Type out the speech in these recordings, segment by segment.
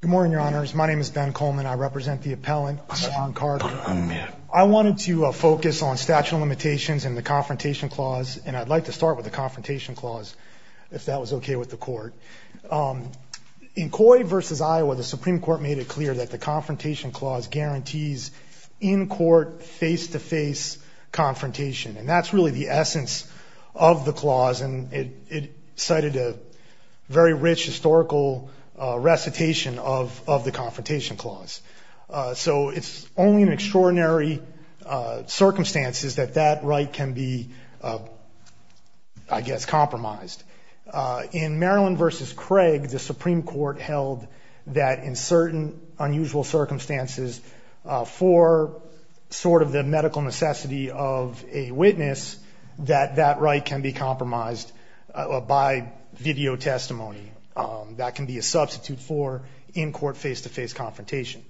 Good morning, your honors. My name is Ben Coleman. I represent the appellant Laron Carter. I wanted to focus on statute of limitations and the Confrontation Clause, and I'd like to start with the Confrontation Clause, if that was okay with the court. In Coy v. Iowa, the Supreme Court made it clear that the Confrontation Clause guarantees in-court, face-to-face And that's really the essence of the clause, and it cited a very rich historical recitation of the Confrontation Clause. So it's only in extraordinary circumstances that that right can be, I guess, compromised. In Maryland v. Craig, the Supreme Court held that in certain unusual circumstances, for sort of the medical necessity of a witness, that that right can be compromised by video testimony. That can be a substitute for in-court, face-to-face confrontation.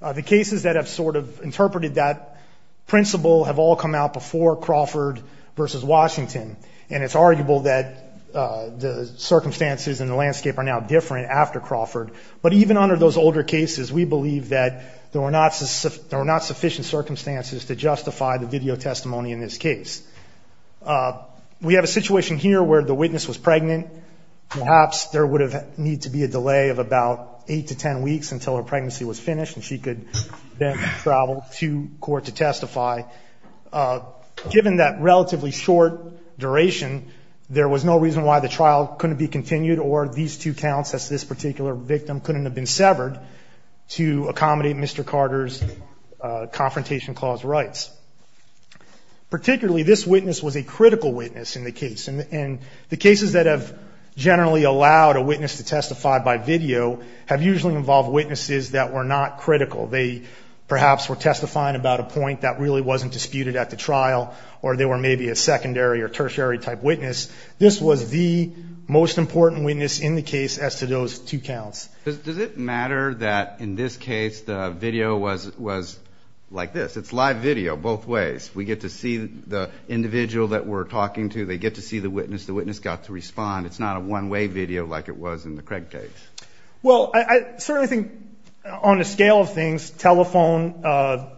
The cases that have sort of interpreted that principle have all come out before Crawford v. Washington, and it's arguable that the circumstances and the landscape are now different after Crawford. But even under those older cases, we believe that there were not sufficient circumstances to justify the video testimony in this case. We have a situation here where the witness was pregnant. Perhaps there would need to be a delay of about eight to ten weeks until her pregnancy was finished, and she could then travel to court to testify. Given that relatively short duration, there was no reason why the trial couldn't be continued or these two counts as this particular victim couldn't have been severed to accommodate Mr. Carter's Confrontation Clause rights. Particularly, this witness was a critical witness in the case. And the cases that have generally allowed a witness to testify by video have usually involved witnesses that were not critical. They perhaps were testifying about a point that really wasn't disputed at the trial, or they were maybe a secondary or tertiary type witness. This was the most important witness in the case as to those two counts. Does it matter that in this case, the video was like this? It's live video both ways. We get to see the individual that we're talking to. They get to see the witness. The witness got to respond. It's not a one-way video like it was in the Craig case. Well, I certainly think on a scale of things, telephone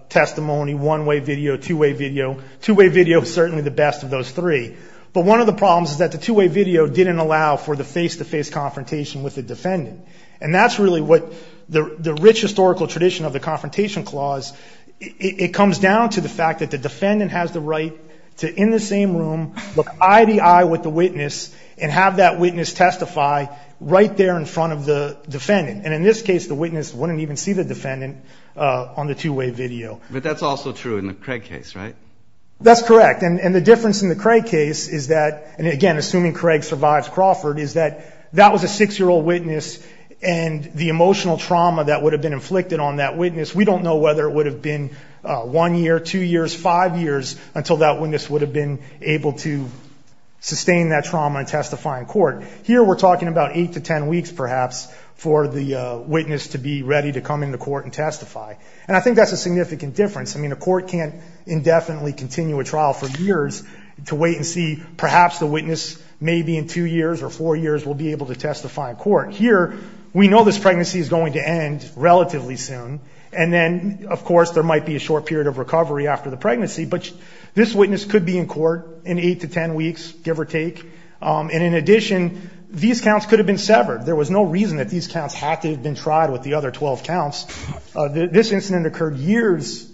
testimony, one-way video, two-way video. Two-way video is certainly the best of those three. But one of the problems is that the two-way video didn't allow for the face-to-face confrontation with the defendant. And that's really what the rich historical tradition of the Confrontation Clause, it comes down to the fact that the defendant has the right to, in the same room, look eye to eye with the witness and have that witness testify right there in front of the defendant. And in this case, the witness wouldn't even see the defendant on the two-way video. But that's also true in the Craig case, right? That's correct. And the difference in the Craig case is that, and again, assuming Craig survives Crawford, is that that was a six-year-old witness and the emotional trauma that would have been inflicted on that witness, we don't know whether it would have been one year, two years, five years until that witness would have been able to sustain that trauma and testify in court. Here we're talking about eight to ten weeks, perhaps, for the witness to be ready to come into court and testify. And I think that's a significant difference. I mean, a court can't indefinitely continue a trial for years to wait and see, perhaps the witness, maybe in two years or four years, will be able to testify in court. Here, we know this pregnancy is going to end relatively soon. And then, of course, there might be a short period of recovery after the pregnancy. But this witness could be in court in eight to ten weeks, give or take. And in addition, these counts could have been severed. There was no reason that these counts had to have been tried with the other 12 counts. This incident occurred years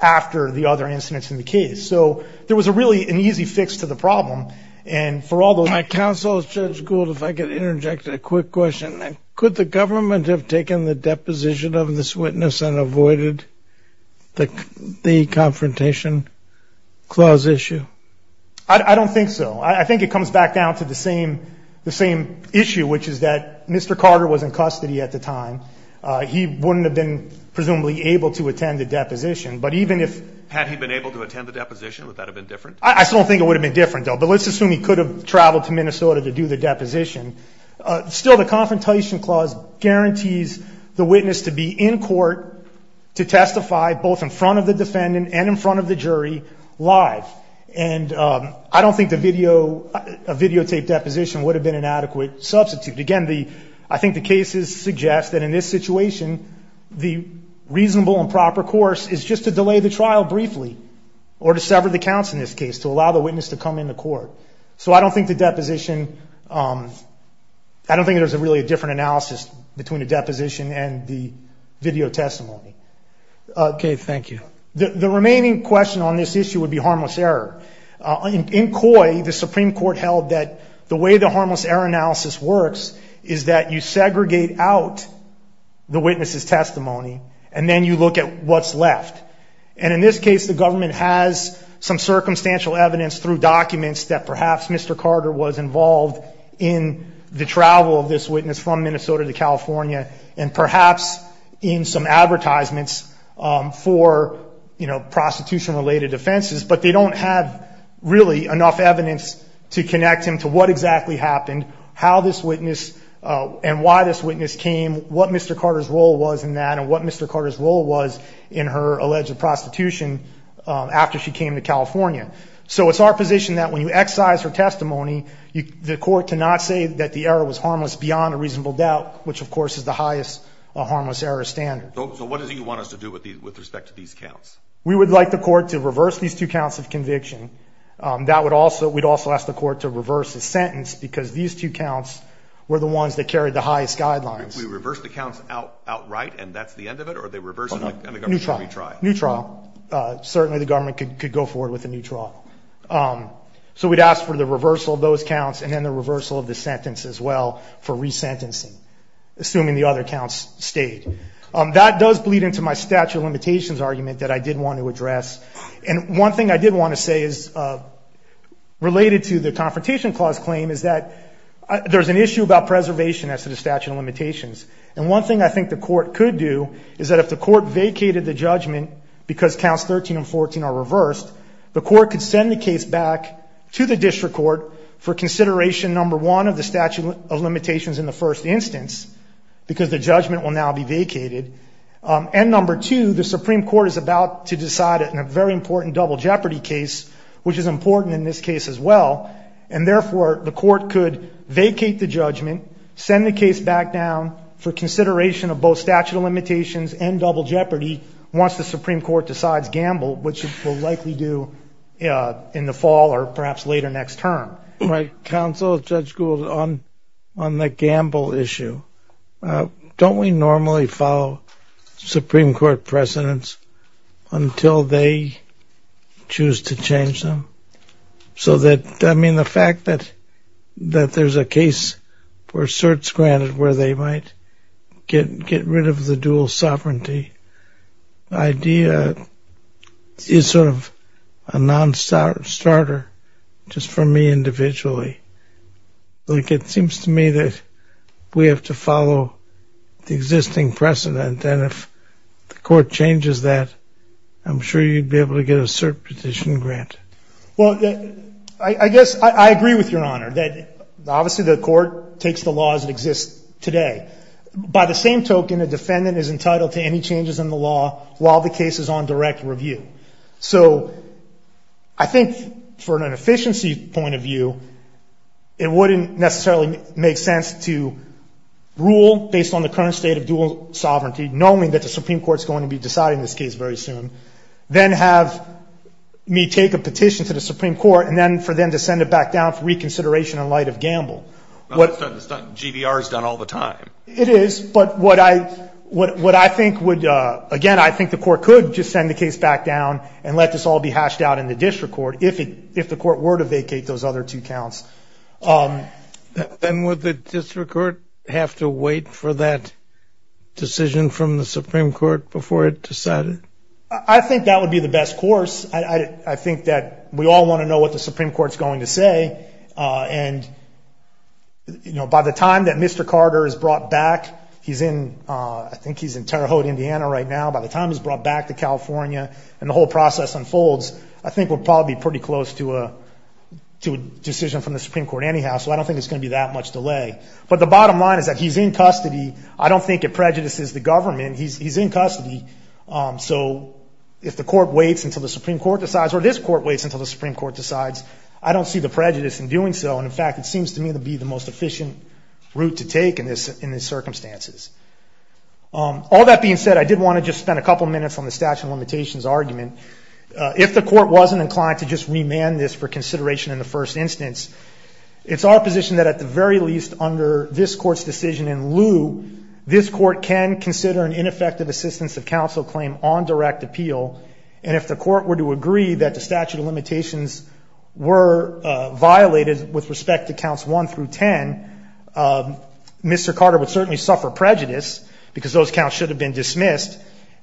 after the other incidents in the case. So there was a really an easy fix to the problem. And for all those... My counsel, Judge Gould, if I could interject a quick question. Could the government have taken the deposition of this witness and avoided the confrontation clause issue? I don't think so. I think it comes back down to the same issue, which is that Mr. Carter was in custody at the time. He wouldn't have been, presumably, able to attend the deposition. But even if... Had he been able to attend the deposition, would that have been different? I still don't think it would have been different, though. But let's assume he could have traveled to Minnesota to do the deposition. Still, the confrontation clause guarantees the witness to be in court to testify, both in front of the defendant and in front of the jury, live. And I don't think a videotaped deposition would have been an adequate substitute. Again, I think the cases suggest that in this situation, the reasonable and proper course is just to delay the trial briefly, or to sever the counts in this case, to allow the witness to come into court. So I don't think the deposition... I don't think there's really a different analysis between a deposition and the video testimony. Okay, thank you. The remaining question on this issue would be harmless error. In COI, the Supreme Court held that the way the harmless error analysis works is that you segregate out the witness's testimony, and then you look at what's left. And in this case, the government has some circumstantial evidence through documents that perhaps Mr. Carter was involved in the travel of this witness from Minnesota to California, and perhaps in some advertisements for, you know, we don't have really enough evidence to connect him to what exactly happened, how this witness, and why this witness came, what Mr. Carter's role was in that, and what Mr. Carter's role was in her alleged prostitution after she came to California. So it's our position that when you excise her testimony, the court cannot say that the error was harmless beyond a reasonable doubt, which of course is the highest harmless error standard. So what is it you want us to do with respect to these counts? We would like the court to reverse these two counts of conviction. We'd also ask the court to reverse the sentence, because these two counts were the ones that carried the highest guidelines. We reverse the counts outright, and that's the end of it, or they reverse and the government can retry? Neutral. Neutral. Certainly the government could go forward with a neutral. So we'd ask for the reversal of those counts, and then the reversal of the sentence as well for resentencing, assuming the other counts stayed. That does bleed into my statute of limitations argument that I did want to address. And one thing I did want to say is related to the Confrontation Clause claim is that there's an issue about preservation as to the statute of limitations. And one thing I think the court could do is that if the court vacated the judgment because counts 13 and 14 are reversed, the court could send the case back to the district court for consideration, number one, of the statute of limitations in the first instance, because the judgment will now be vacated. And number two, the Supreme Court is about to decide it in a very important double jeopardy case, which is important in this case as well. And therefore, the court could vacate the judgment, send the case back down for consideration of both statute of limitations and double jeopardy once the Supreme Court decides Gamble, which it will likely do in the fall or perhaps later next term. My counsel, Judge Gould, on the Gamble issue, don't we normally follow Supreme Court precedents until they choose to change them? So that, I mean, the fact that there's a case for certs granted where they might get rid of the dual sovereignty idea is sort of a non-starter just for me individually. Like it seems to me that we have to follow the existing precedent and if the court changes that, I'm sure you'd be able to get a cert petition granted. Well, I guess I agree with Your Honor that obviously the court takes the laws that exist today. By the same token, a defendant is entitled to any changes in the law while the case is on direct review. So I think for an inefficiency point of view, it wouldn't necessarily make sense to rule based on the current state of dual sovereignty, knowing that the Supreme Court is going to be deciding this case very soon, then have me take a petition to the Supreme Court and then for them to send it back down for reconsideration in light of Gamble. Well, that's not something GVR has done all the time. It is, but what I think would, again, I think the court could just send the case back down and let this all be hashed out in the district court if the court were to vacate those other two counts. Then would the district court have to wait for that decision from the Supreme Court before it decided? I think that would be the best course. I think that we all want to know what the Supreme Court has brought back. I think he's in Terre Haute, Indiana right now. By the time he's brought back to California and the whole process unfolds, I think we'll probably be pretty close to a decision from the Supreme Court anyhow, so I don't think there's going to be that much delay. But the bottom line is that he's in custody. I don't think it prejudices the government. He's in custody, so if the court waits until the Supreme Court decides, or this court waits until the Supreme Court decides, I don't see the prejudice in doing so. In fact, it seems to me to be the most efficient route to take in these circumstances. All that being said, I did want to just spend a couple of minutes on the statute of limitations argument. If the court wasn't inclined to just remand this for consideration in the first instance, it's our position that at the very least under this court's decision in lieu, this court can consider an ineffective assistance of counsel claim on direct appeal, and if the court were to agree that the statute of limitations were violated with respect to counts 1 through 10, Mr. Carter would certainly suffer prejudice, because those counts should have been dismissed,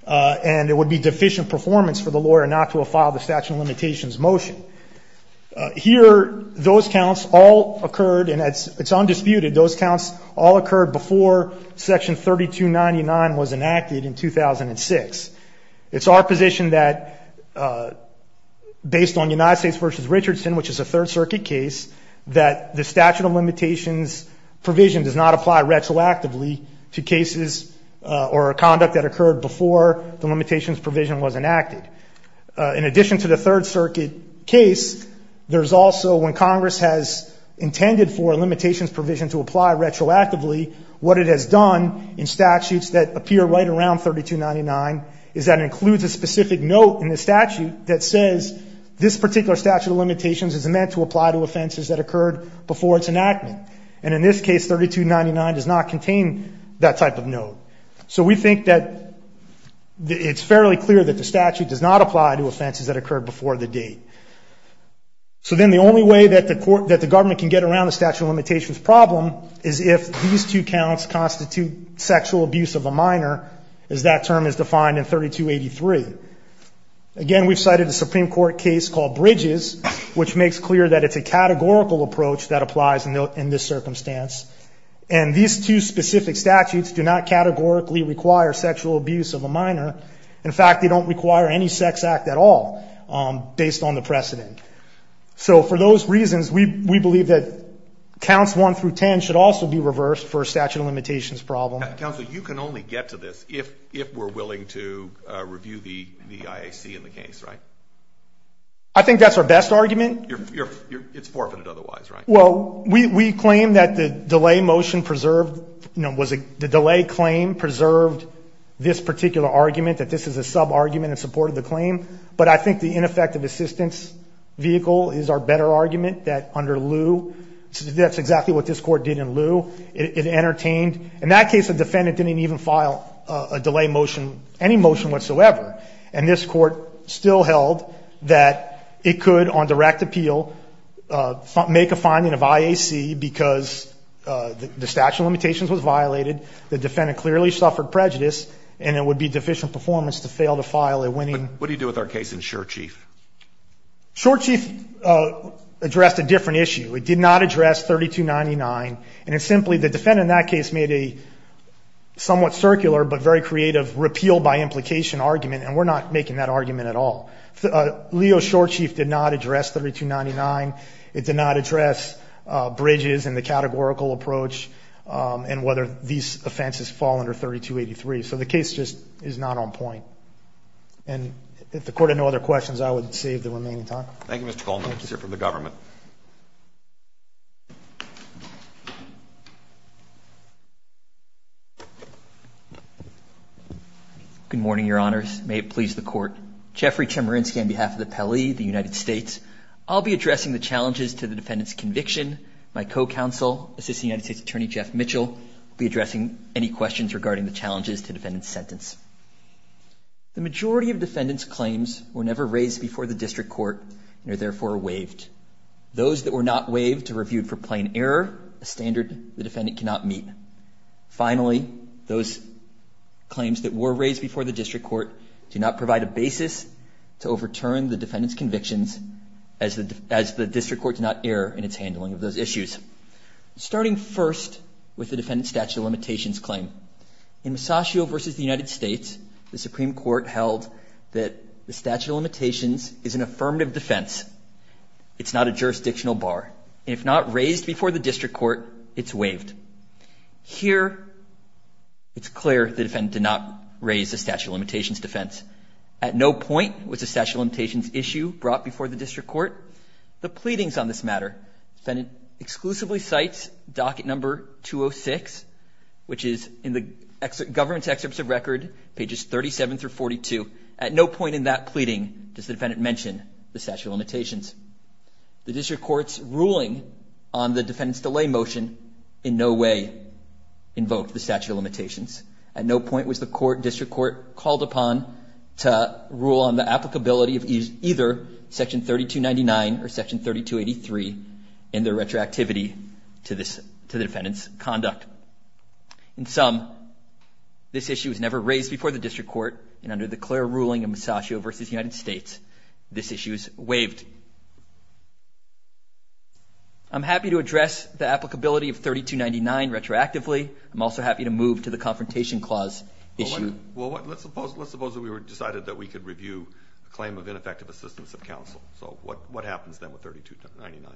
and it would be deficient performance for the lawyer not to have filed the statute of limitations motion. Here those counts all occurred, and it's undisputed, those counts all occurred before Section 3299 was enacted in 2006. It's our position that based on United States v. Richardson, which the statute of limitations provision does not apply retroactively to cases or conduct that occurred before the limitations provision was enacted. In addition to the Third Circuit case, there's also when Congress has intended for limitations provision to apply retroactively, what it has done in statutes that appear right around 3299 is that includes a specific note in the statute that says this particular statute of limitations is meant to apply to offenses that occurred before its enactment, and in this case 3299 does not contain that type of note. So we think that it's fairly clear that the statute does not apply to offenses that occurred before the date. So then the only way that the government can get around the statute of limitations problem is if these two counts constitute sexual abuse of a minor, as that term is defined in 3283. Again, we've cited a Supreme Court case called Bridges, which makes clear that it's a categorical approach that applies in this circumstance, and these two specific statutes do not categorically require sexual abuse of a minor. In fact, they don't require any sex act at all based on the precedent. So for those reasons, we believe that counts 1 through 10 should also be reversed for a statute of limitations problem. Counsel, you can only get to this if we're willing to review the IAC in the case, right? I think that's our best argument. It's forfeited otherwise, right? Well, we claim that the delay motion preserved, you know, the delay claim preserved this particular argument that this is a sub-argument in support of the claim, but I think the ineffective assistance vehicle is our better argument that under lieu, that's exactly what this defendant didn't even file a delay motion, any motion whatsoever, and this court still held that it could, on direct appeal, make a finding of IAC because the statute of limitations was violated, the defendant clearly suffered prejudice, and it would be deficient performance to fail to file a winning... What do you do with our case in Shore Chief? Shore Chief addressed a different issue. It did not address 3299, and it's simply the somewhat circular, but very creative repeal by implication argument, and we're not making that argument at all. Leo Shore Chief did not address 3299. It did not address bridges and the categorical approach and whether these offenses fall under 3283, so the case just is not on point, and if the court had no other questions, I would save the remaining time. Thank you, Mr. Coleman. Thank you, sir, for the government. Good morning, Your Honors. May it please the court. Jeffrey Chemerinsky on behalf of the Appellee, the United States. I'll be addressing the challenges to the defendant's conviction. My co-counsel, Assistant United States Attorney Jeff Mitchell, will be addressing any questions regarding the challenges to defendant's sentence. The majority of defendant's claims were never raised before the district court and are therefore waived. Those that were not waived are reviewed for plain error, a standard the defendant cannot meet. Finally, those claims that were raised before the district court do not provide a basis to overturn the defendant's convictions as the district court did not err in its handling of those issues. Starting first with the defendant's statute of limitations claim. In Masaccio v. the United States, the Supreme Court held that the statute of limitations is an affirmative defense. It's not a jurisdictional bar. If not raised before the district court, it's waived. Here, it's clear the defendant did not raise the statute of limitations defense. At no point was the statute of limitations issue brought before the district court. The pleadings on this matter, defendant exclusively cites docket number 206, which is in the government's excerpts of record, pages 37 through 42. At no point in that pleading does the defendant mention the statute of limitations. The district court's ruling on the defendant's delay motion in no way invoked the statute of limitations. At no point was the district court called upon to rule on the applicability of either section 3299 or section 3283 in their retroactivity to the defendant's conduct. In sum, this issue was never raised before the district court, and under the clear ruling of Masaccio v. the United States, this issue is waived. I'm happy to address the applicability of 3299 retroactively. I'm also happy to move to the confrontation clause issue. Well, let's suppose that we decided that we could review a claim of ineffective assistance of counsel. So what happens then with 3299?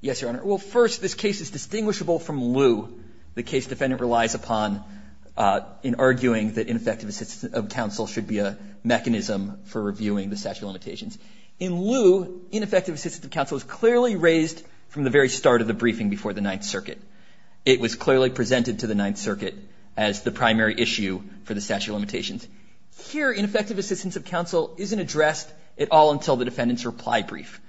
Yes, Your Honor. Well, first, this case is distinguishable from Lew. The case defendant relies upon in arguing that ineffective assistance of counsel should be a mechanism for reviewing the statute of limitations. In Lew, ineffective assistance of counsel was clearly raised from the very start of the briefing before the Ninth Circuit. It was clearly presented to the Ninth Circuit as the primary issue for the statute of limitations. Here, ineffective assistance of counsel isn't addressed at all until the defendant's reply brief.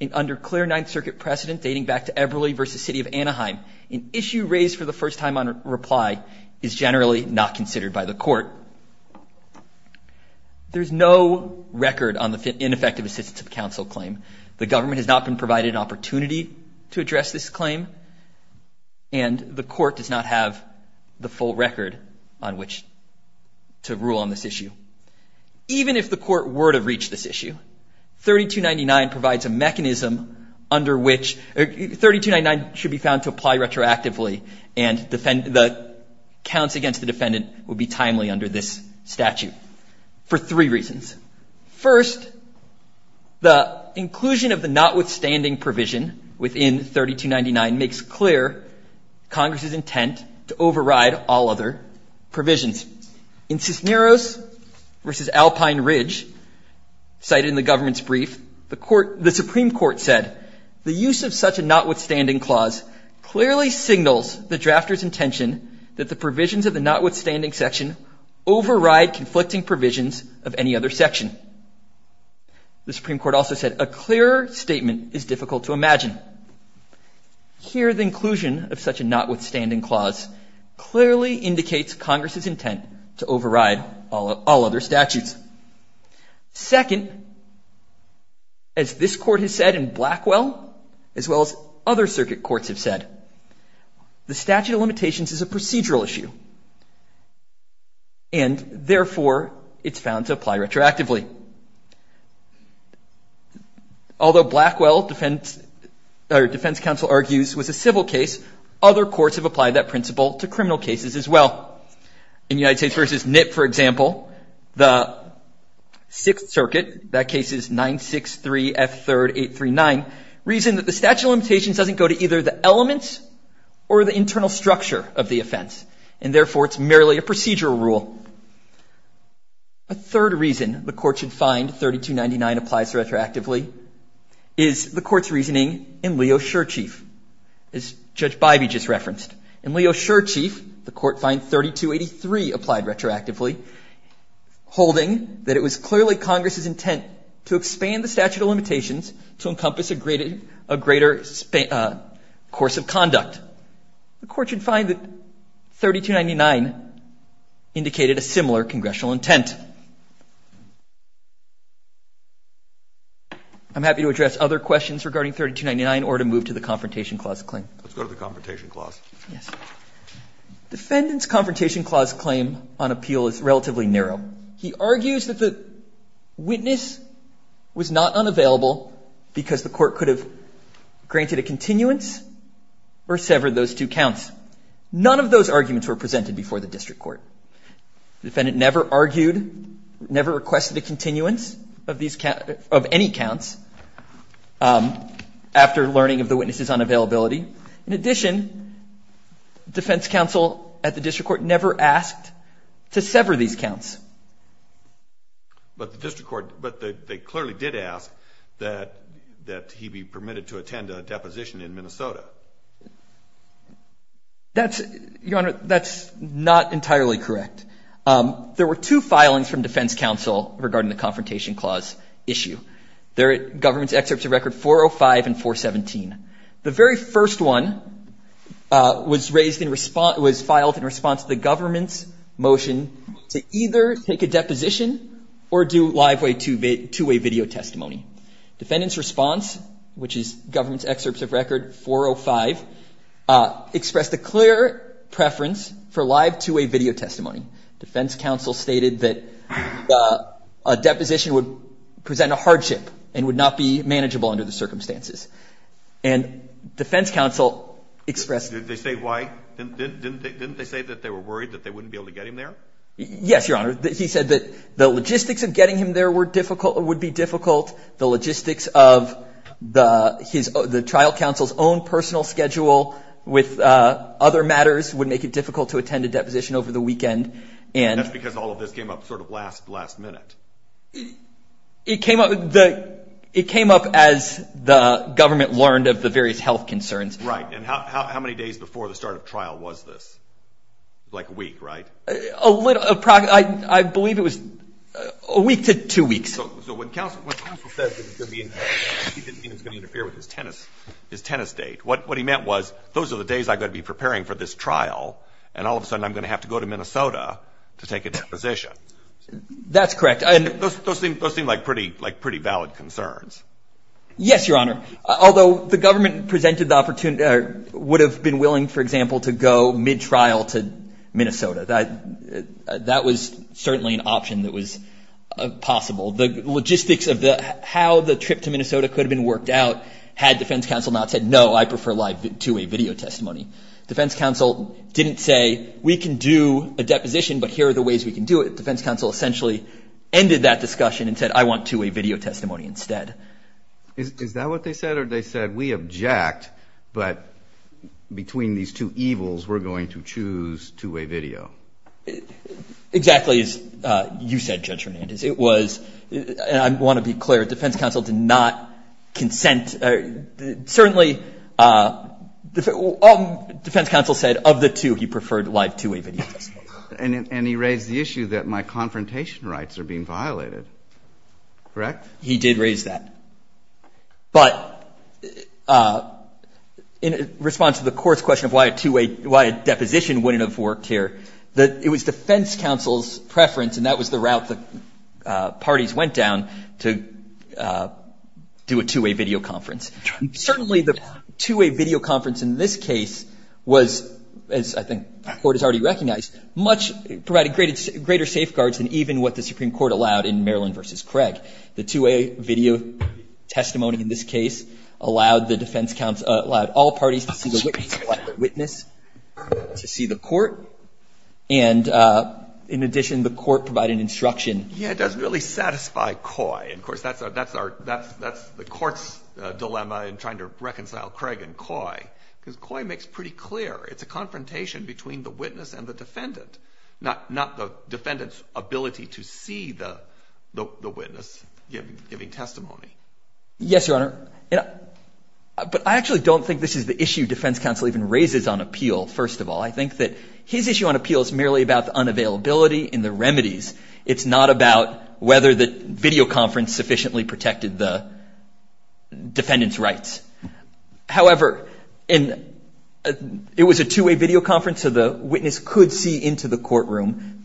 And under clear Ninth Circuit precedent, dating back to Eberly v. City of Anaheim, an issue raised for the first time on reply is generally not considered by the court. There's no record on the ineffective assistance of counsel claim. The government has not been provided an opportunity to address this claim, and the court does not have the full record on which to rule on this issue. Even if the court were to reach this issue, 3299 provides a mechanism under which 3299 should be found to apply retroactively, and the counts against the defendant would be timely under this statute for three reasons. First, the inclusion of the notwithstanding provision within 3299 makes clear Congress's intent to override all other provisions. In Cisneros v. Alpine Ridge, cited in the government's court, the Supreme Court said, the use of such a notwithstanding clause clearly signals the drafter's intention that the provisions of the notwithstanding section override conflicting provisions of any other section. The Supreme Court also said a clearer statement is difficult to imagine. Here, the inclusion of such a notwithstanding clause clearly indicates Congress's intent, as this court has said in Blackwell, as well as other circuit courts have said. The statute of limitations is a procedural issue, and therefore it's found to apply retroactively. Although Blackwell defense counsel argues was a civil case, other courts have applied that principle to criminal cases as well. In United States v. Nip, for example, the 9-6-3-F-3-8-3-9 reason that the statute of limitations doesn't go to either the elements or the internal structure of the offense, and therefore it's merely a procedural rule. A third reason the Court should find 3299 applies retroactively is the Court's reasoning in Leo Shurchieff, as Judge Bybee just referenced. In Leo Shurchieff, the Court finds 3283 applied retroactively, holding that it was clearly Congress's intent to expand the statute of limitations to encompass a greater course of conduct. The Court should find that 3299 indicated a similar congressional intent. I'm happy to address other questions regarding 3299 or to move to the Confrontation Clause claim. Let's go to the Confrontation Clause. Yes. Defendant's Confrontation Clause claim on appeal is relatively narrow. He argues that the witness was not unavailable because the Court could have granted a continuance or severed those two counts. None of those arguments were presented before the District Court. The defendant never argued, never requested a continuance of any counts after learning of the witness's unavailability. In addition, defense counsel at the District Court never asked to sever these counts. But the District Court, but they clearly did ask that he be permitted to attend a deposition in Minnesota. That's, Your Honor, that's not entirely correct. There were two filings from defense counsel regarding the Confrontation Clause issue. They're at Government's Excerpts of Record 405 and 417. The very first one was raised in response, was filed in response to the government's motion to either take a deposition or do live way two-way video testimony. Defendant's response, which is Government's Excerpts of Record 405, expressed a clear preference for live two-way video testimony. Defense counsel stated that a deposition would present a hardship and would not be manageable under the circumstances. And defense counsel expressed Didn't they say why? Didn't they say that they were worried that they wouldn't be able to get him there? Yes, Your Honor. He said that the logistics of getting him there would be difficult. The logistics of the trial counsel's own personal schedule with other matters would make it difficult to attend a deposition over the weekend. And that's because all of this came up sort of last minute. It came up as the government learned of the various health concerns. Right. And how many days before the start of trial was this? Like a week, right? I believe it was a week to two weeks. So when counsel said that he didn't think it was going to interfere with his tennis date, what he meant was, those are the days I've got to be preparing for this trial. And all of a sudden, I'm going to have to go to Minnesota to take a deposition. That's correct. Those seem like pretty valid concerns. Yes, Your Honor. Although the government presented the opportunity or would have been willing, for example, to go mid-trial to Minnesota. That was certainly an option that was possible. The logistics of how the trip to Minnesota could have been worked out had defense counsel not said, no, I prefer live two-way video testimony. Defense counsel didn't say, we can do a deposition, but here are the ways we can do it. Defense counsel essentially ended that discussion and said, I want two-way video testimony instead. Is that what they said? Or they said, we object, but between these two evils, we're going to choose two-way video? Exactly as you said, Judge Hernandez. It was, and I want to be clear, defense counsel did not consent. Certainly, defense counsel said, of the two, he preferred live two-way video testimony. And he raised the issue that my confrontation rights are being violated. Correct? He did raise that. But in response to the court's question of why a two-way, why a deposition wouldn't have worked here, it was defense counsel's preference, and that was the route the parties went down to do a two-way video conference. Certainly, the two-way video conference in this case was, as I think the court has already recognized, much, provided greater safeguards than even what the Supreme Court allowed in Maryland versus Craig. The two-way video testimony in this case allowed the defense counsel, allowed all parties to see the witness, to see the court. And in addition, the court provided instruction. Yeah, it doesn't really satisfy Coy. And of course, that's the court's dilemma in trying to reconcile Craig and Coy, because Coy makes pretty clear. It's a confrontation between the witness and the defendant, not the defendant's ability to see the witness giving testimony. Yes, Your Honor. But I actually don't think this is the issue defense counsel even raises on appeal, first of all. I think that his issue on appeal is merely about the unavailability and the remedies. It's not about whether the video conference sufficiently protected the defendant's rights. However, it was a two-way video conference, so the witness could see into the courtroom,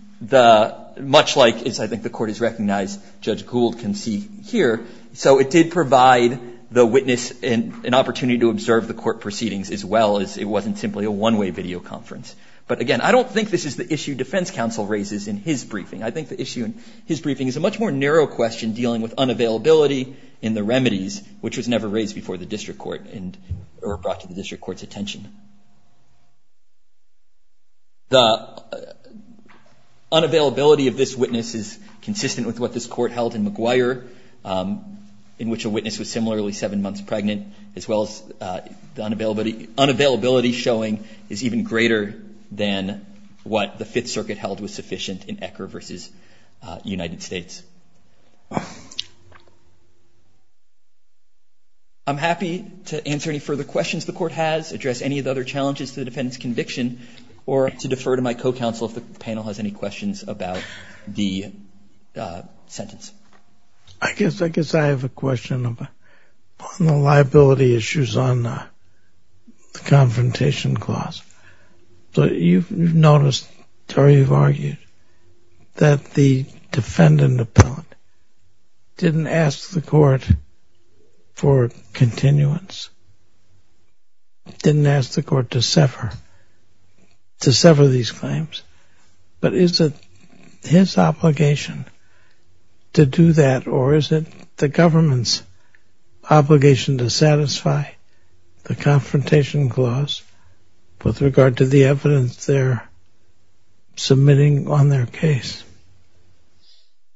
much like, as I think the court has recognized, Judge Gould can see here. So it did provide the witness an opportunity to observe the court proceedings, as well as it wasn't simply a one-way video conference. But again, I don't think this is the issue defense counsel raises in his briefing. I think the issue in his briefing is a much more narrow question dealing with unavailability and the remedies, which was never raised before the district court, or brought to the district court's attention. The unavailability of this witness is consistent with what this court held in McGuire, in which a witness was similarly seven months pregnant, as well as the unavailability showing is even greater than what the Fifth Circuit held was sufficient in Ecker versus United States. I'm happy to answer any further questions the court has, address any of the other challenges to the defendant's conviction, or to defer to my co-counsel if the panel has any questions about the sentence. I guess I have a question on the liability issues on the confrontation clause. You've noticed, Terry, you've argued that the defendant appellant didn't ask the court for continuance. Didn't ask the court to sever these claims. But is it his obligation to do that, or is it the government's obligation to satisfy the confrontation clause with regard to the evidence they're submitting on their case?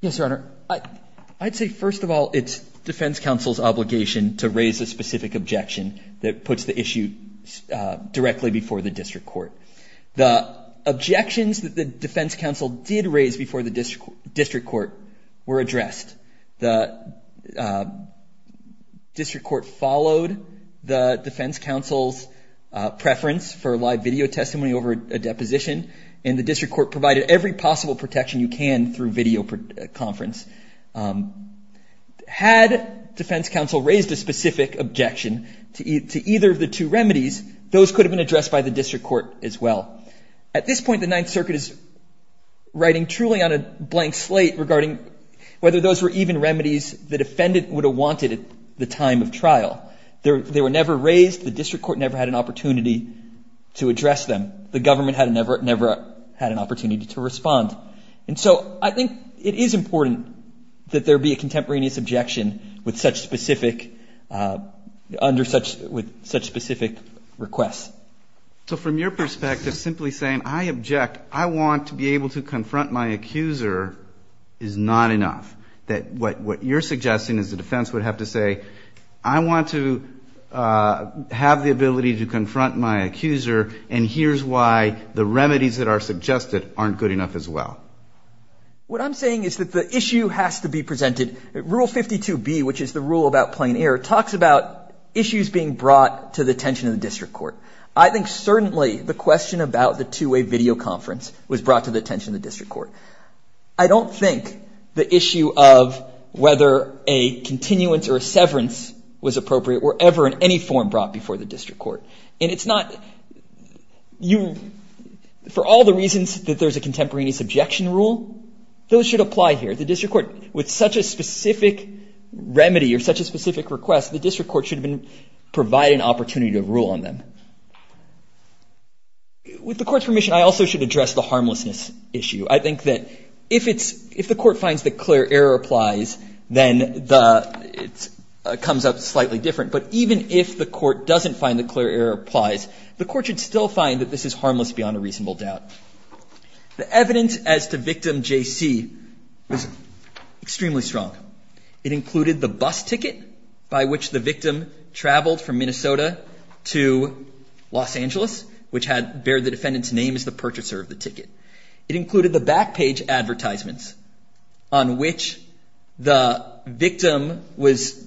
Yes, Your Honor. I'd say, first of all, it's defense counsel's obligation to raise a specific objection that puts the issue directly before the district court. The objections that the defense counsel did raise before the district court were addressed. The district court followed the defense counsel's preference for live video testimony over a deposition, and the district court provided every possible protection you can through video conference. Had defense counsel raised a specific objection to either of the two remedies, those could have been addressed by the district court as well. At this point, the Ninth Circuit is writing truly on a blank slate regarding whether those were even remedies the defendant would have wanted at the time of trial. They were never raised. The district court never had an opportunity to address them. The government had never had an opportunity to respond. And so I think it is important that there be a contemporaneous objection with such specific requests. So from your perspective, simply saying, I object, I want to be able to confront my accuser, is not enough. That what you're suggesting is the defense would have to say, I want to have the ability to confront my accuser, and here's why the remedies that are suggested aren't good enough as well. What I'm saying is that the issue has to be presented. Rule 52B, which is the rule about plain air, talks about issues being brought to the attention of the district court. I think certainly the question about the two-way video conference was brought to the attention of the district court. I don't think the issue of whether a continuance or a severance was appropriate were ever in any form brought before the district court. And it's not, for all the reasons that there's a contemporaneous objection rule, those should apply here. The district court, with such a specific remedy or such a specific request, the district court should provide an opportunity to rule on them. With the court's permission, I also should address the harmlessness issue. I think that if the court finds that clear error applies, then it comes up slightly different. But even if the court doesn't find that clear error applies, the court should still find that this is harmless beyond a reasonable doubt. The evidence as to victim J.C. was extremely strong. It included the bus ticket by which the victim traveled from Minnesota to Los Angeles, which had bared the defendant's name as the purchaser of the ticket. It included the back page advertisements on which the victim was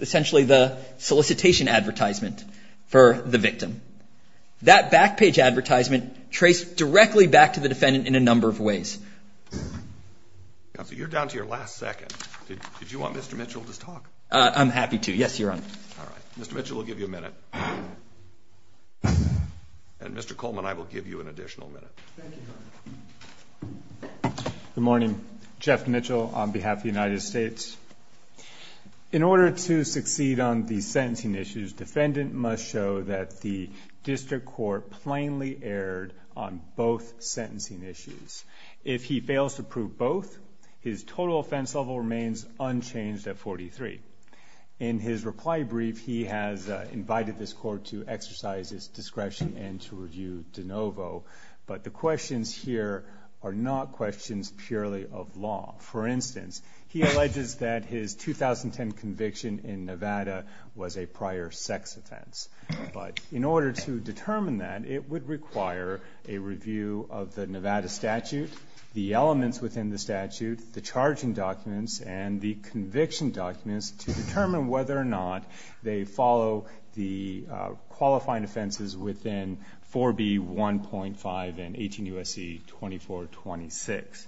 essentially the solicitation advertisement for the victim. That back page advertisement traced directly back to the defendant in a number of ways. So you're down to your last second. Did you want Mr. Mitchell to talk? I'm happy to. Yes, Your Honor. All right. Mr. Mitchell will give you a minute. And Mr. Coleman, I will give you an additional minute. Thank you, Your Honor. Good morning. Jeff Mitchell on behalf of the United States. In order to succeed on the sentencing issues, defendant must show that the district court plainly erred on both sentencing issues. If he fails to prove both, his total offense level remains unchanged at 43. In his reply brief, he has invited this court to exercise its discretion and to review de novo. But the questions here are not questions purely of law. For instance, he alleges that his 2010 conviction in Nevada was a prior sex offense. But in order to determine that, it would require a review of the Nevada statute, the elements within the statute, the charging documents, and the conviction documents to determine whether or not they follow the qualifying offenses within 4B 1.5 and 18 U.S.C. 2426.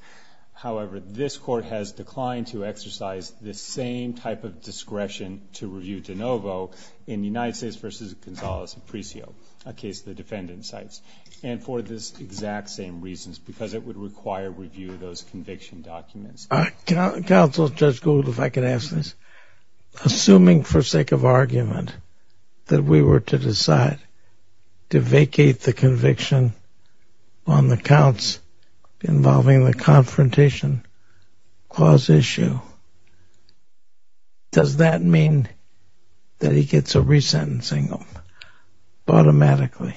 However, this court has declined to exercise this same type of discretion to review de novo in the United States versus Gonzales-Apricio, a case the defendant cites. And for this exact same reasons, because it would require review of those conviction documents. Counsel, Judge Gould, if I could ask this. Assuming for sake of argument that we were to decide to vacate the conviction on the counts involving the confrontation clause issue, does that mean that he gets a re-sentencing automatically?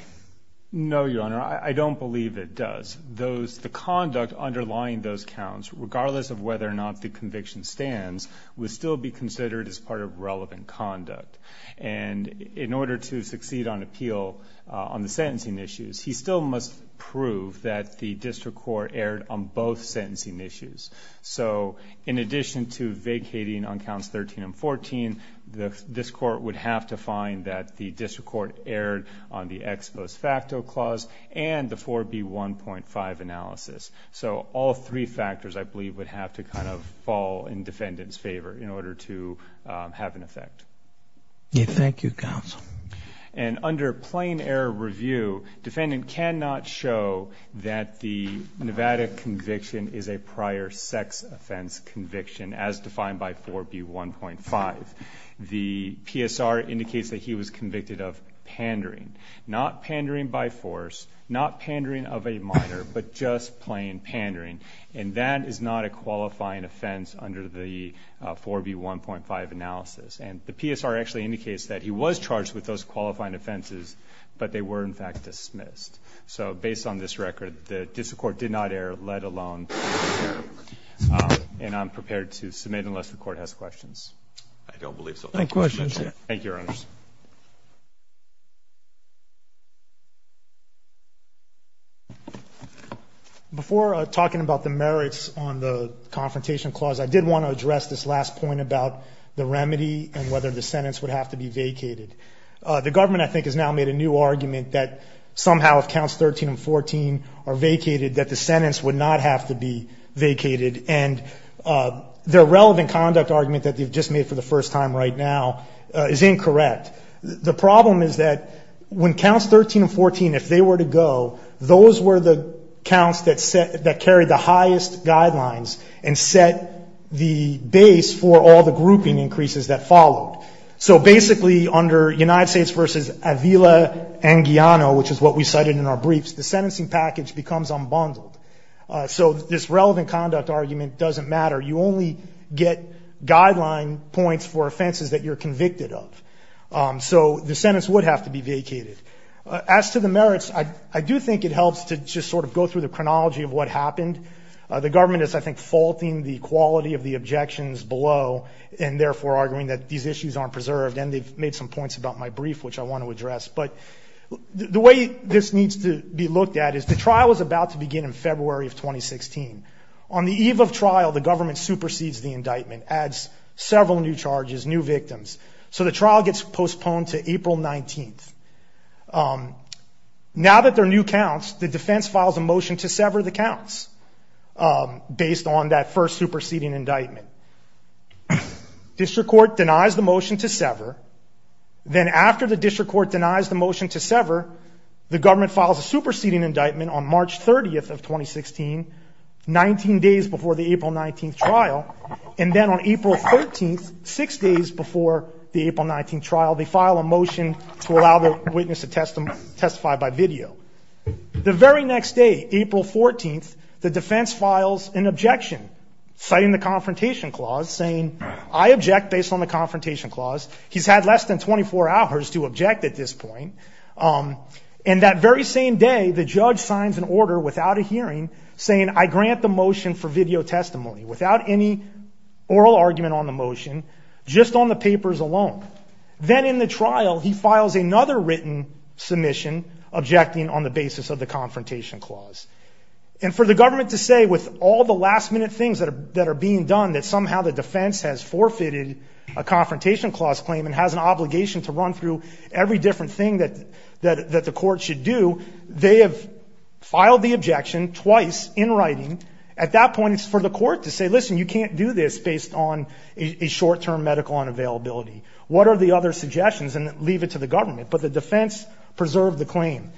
No, Your Honor, I don't believe it does. The conduct underlying those counts, regardless of whether or not the conviction stands, would still be considered as part of relevant conduct. And in order to succeed on appeal on the sentencing issues, he still must prove that the district court erred on both sentencing issues. So in addition to vacating on counts 13 and 14, this court would have to find that the district court erred on the ex post facto clause and the 4B1.5 analysis. So all three factors, I believe, would have to kind of fall in defendant's favor in order to have an effect. Thank you, Counsel. And under plain error review, defendant cannot show that the Nevada conviction is a prior sex offense conviction as defined by 4B1.5. The PSR indicates that he was convicted of pandering, not pandering by force, not pandering of a minor, but just plain pandering. And that is not a qualifying offense under the 4B1.5 analysis. And the PSR actually indicates that he was charged with those qualifying offenses, but they were, in fact, dismissed. So based on this record, the district court did not err, let alone prove his error. And I'm prepared to submit unless the court has questions. No questions. Thank you, Your Honors. Before talking about the merits on the confrontation clause, I did want to address this last point about the remedy and whether the sentence would have to be vacated. The government, I think, has now made a new argument that somehow if counts 13 and 14 are vacated, that the sentence would not have to be vacated. And their relevant conduct argument that they've just made for the first time right now is incorrect. The problem is that when counts 13 and 14, if they were to go, those were the counts that carried the highest guidelines and set the base for all the grouping increases that followed. So basically, under United States v. Avila and Guiano, which is what we cited in our briefs, the sentencing package becomes unbundled. So this relevant conduct argument doesn't matter. You only get guideline points for offenses that you're convicted of. So the sentence would have to be vacated. As to the merits, I do think it helps to just sort of go through the chronology of what happened. The government is, I think, faulting the quality of the objections below and therefore arguing that these issues aren't preserved. And they've made some points about my brief, which I want to address. But the way this needs to be looked at is the trial is about to begin in February of 2016. On the eve of trial, the government supersedes the indictment, adds several new charges, new victims. So the trial gets postponed to April 19th. Now that there are new counts, the defense files a motion to sever the counts based on that first superseding indictment. District court denies the motion to sever. Then after the district court denies the motion to sever, the government files a superseding indictment on March 30th of 2016, 19 days before the April 19th trial. And then on April 13th, six days before the April 19th trial, they file a motion to allow the witness to testify by video. The very next day, April 14th, the defense files an objection, citing the confrontation clause, saying, I object based on the confrontation clause. He's had less than 24 hours to object at this point. And that very same day, the judge signs an order without a hearing saying, I grant the motion for video testimony without any oral argument on the motion, just on the papers alone. Then in the trial, he files another written submission objecting on the basis of the confrontation clause. And for the government to say with all the last minute things that are that are being done, that somehow the defense has forfeited a confrontation clause claim and has an obligation to run through every different thing that that that the court should do. They have filed the objection twice in writing. At that point, it's for the court to say, listen, you can't do this based on a short term medical unavailability. What are the other suggestions? And leave it to the government. But the defense preserved the claim.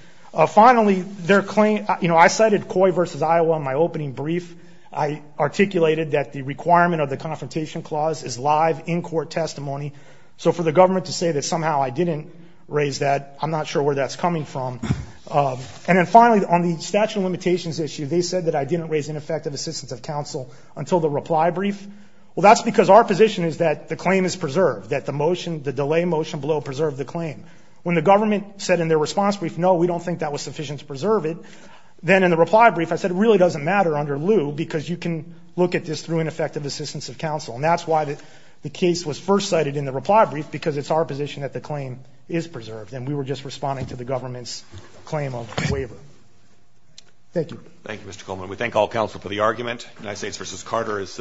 Finally, their claim. You know, I cited Coy versus Iowa in my opening brief. I articulated that the requirement of the confrontation clause is live in court testimony. So for the government to say that somehow I didn't raise that, I'm not sure where that's coming from. And then finally, on the statute of limitations issue, they said that I didn't raise ineffective assistance of counsel until the reply brief. Well, that's because our position is that the claim is preserved, that the motion, the delay motion below preserved the claim. When the government said in their response brief, no, we don't think that was sufficient to preserve it. Then in the reply brief, I said it really doesn't matter under lieu because you can look at this through ineffective assistance of counsel. And that's why the case was first cited in the reply brief, because it's our position that the claim is preserved. And we were just responding to the government's claim of waiver. Thank you. Thank you, Mr. Coleman. We thank all counsel for the argument. United States versus Carter is.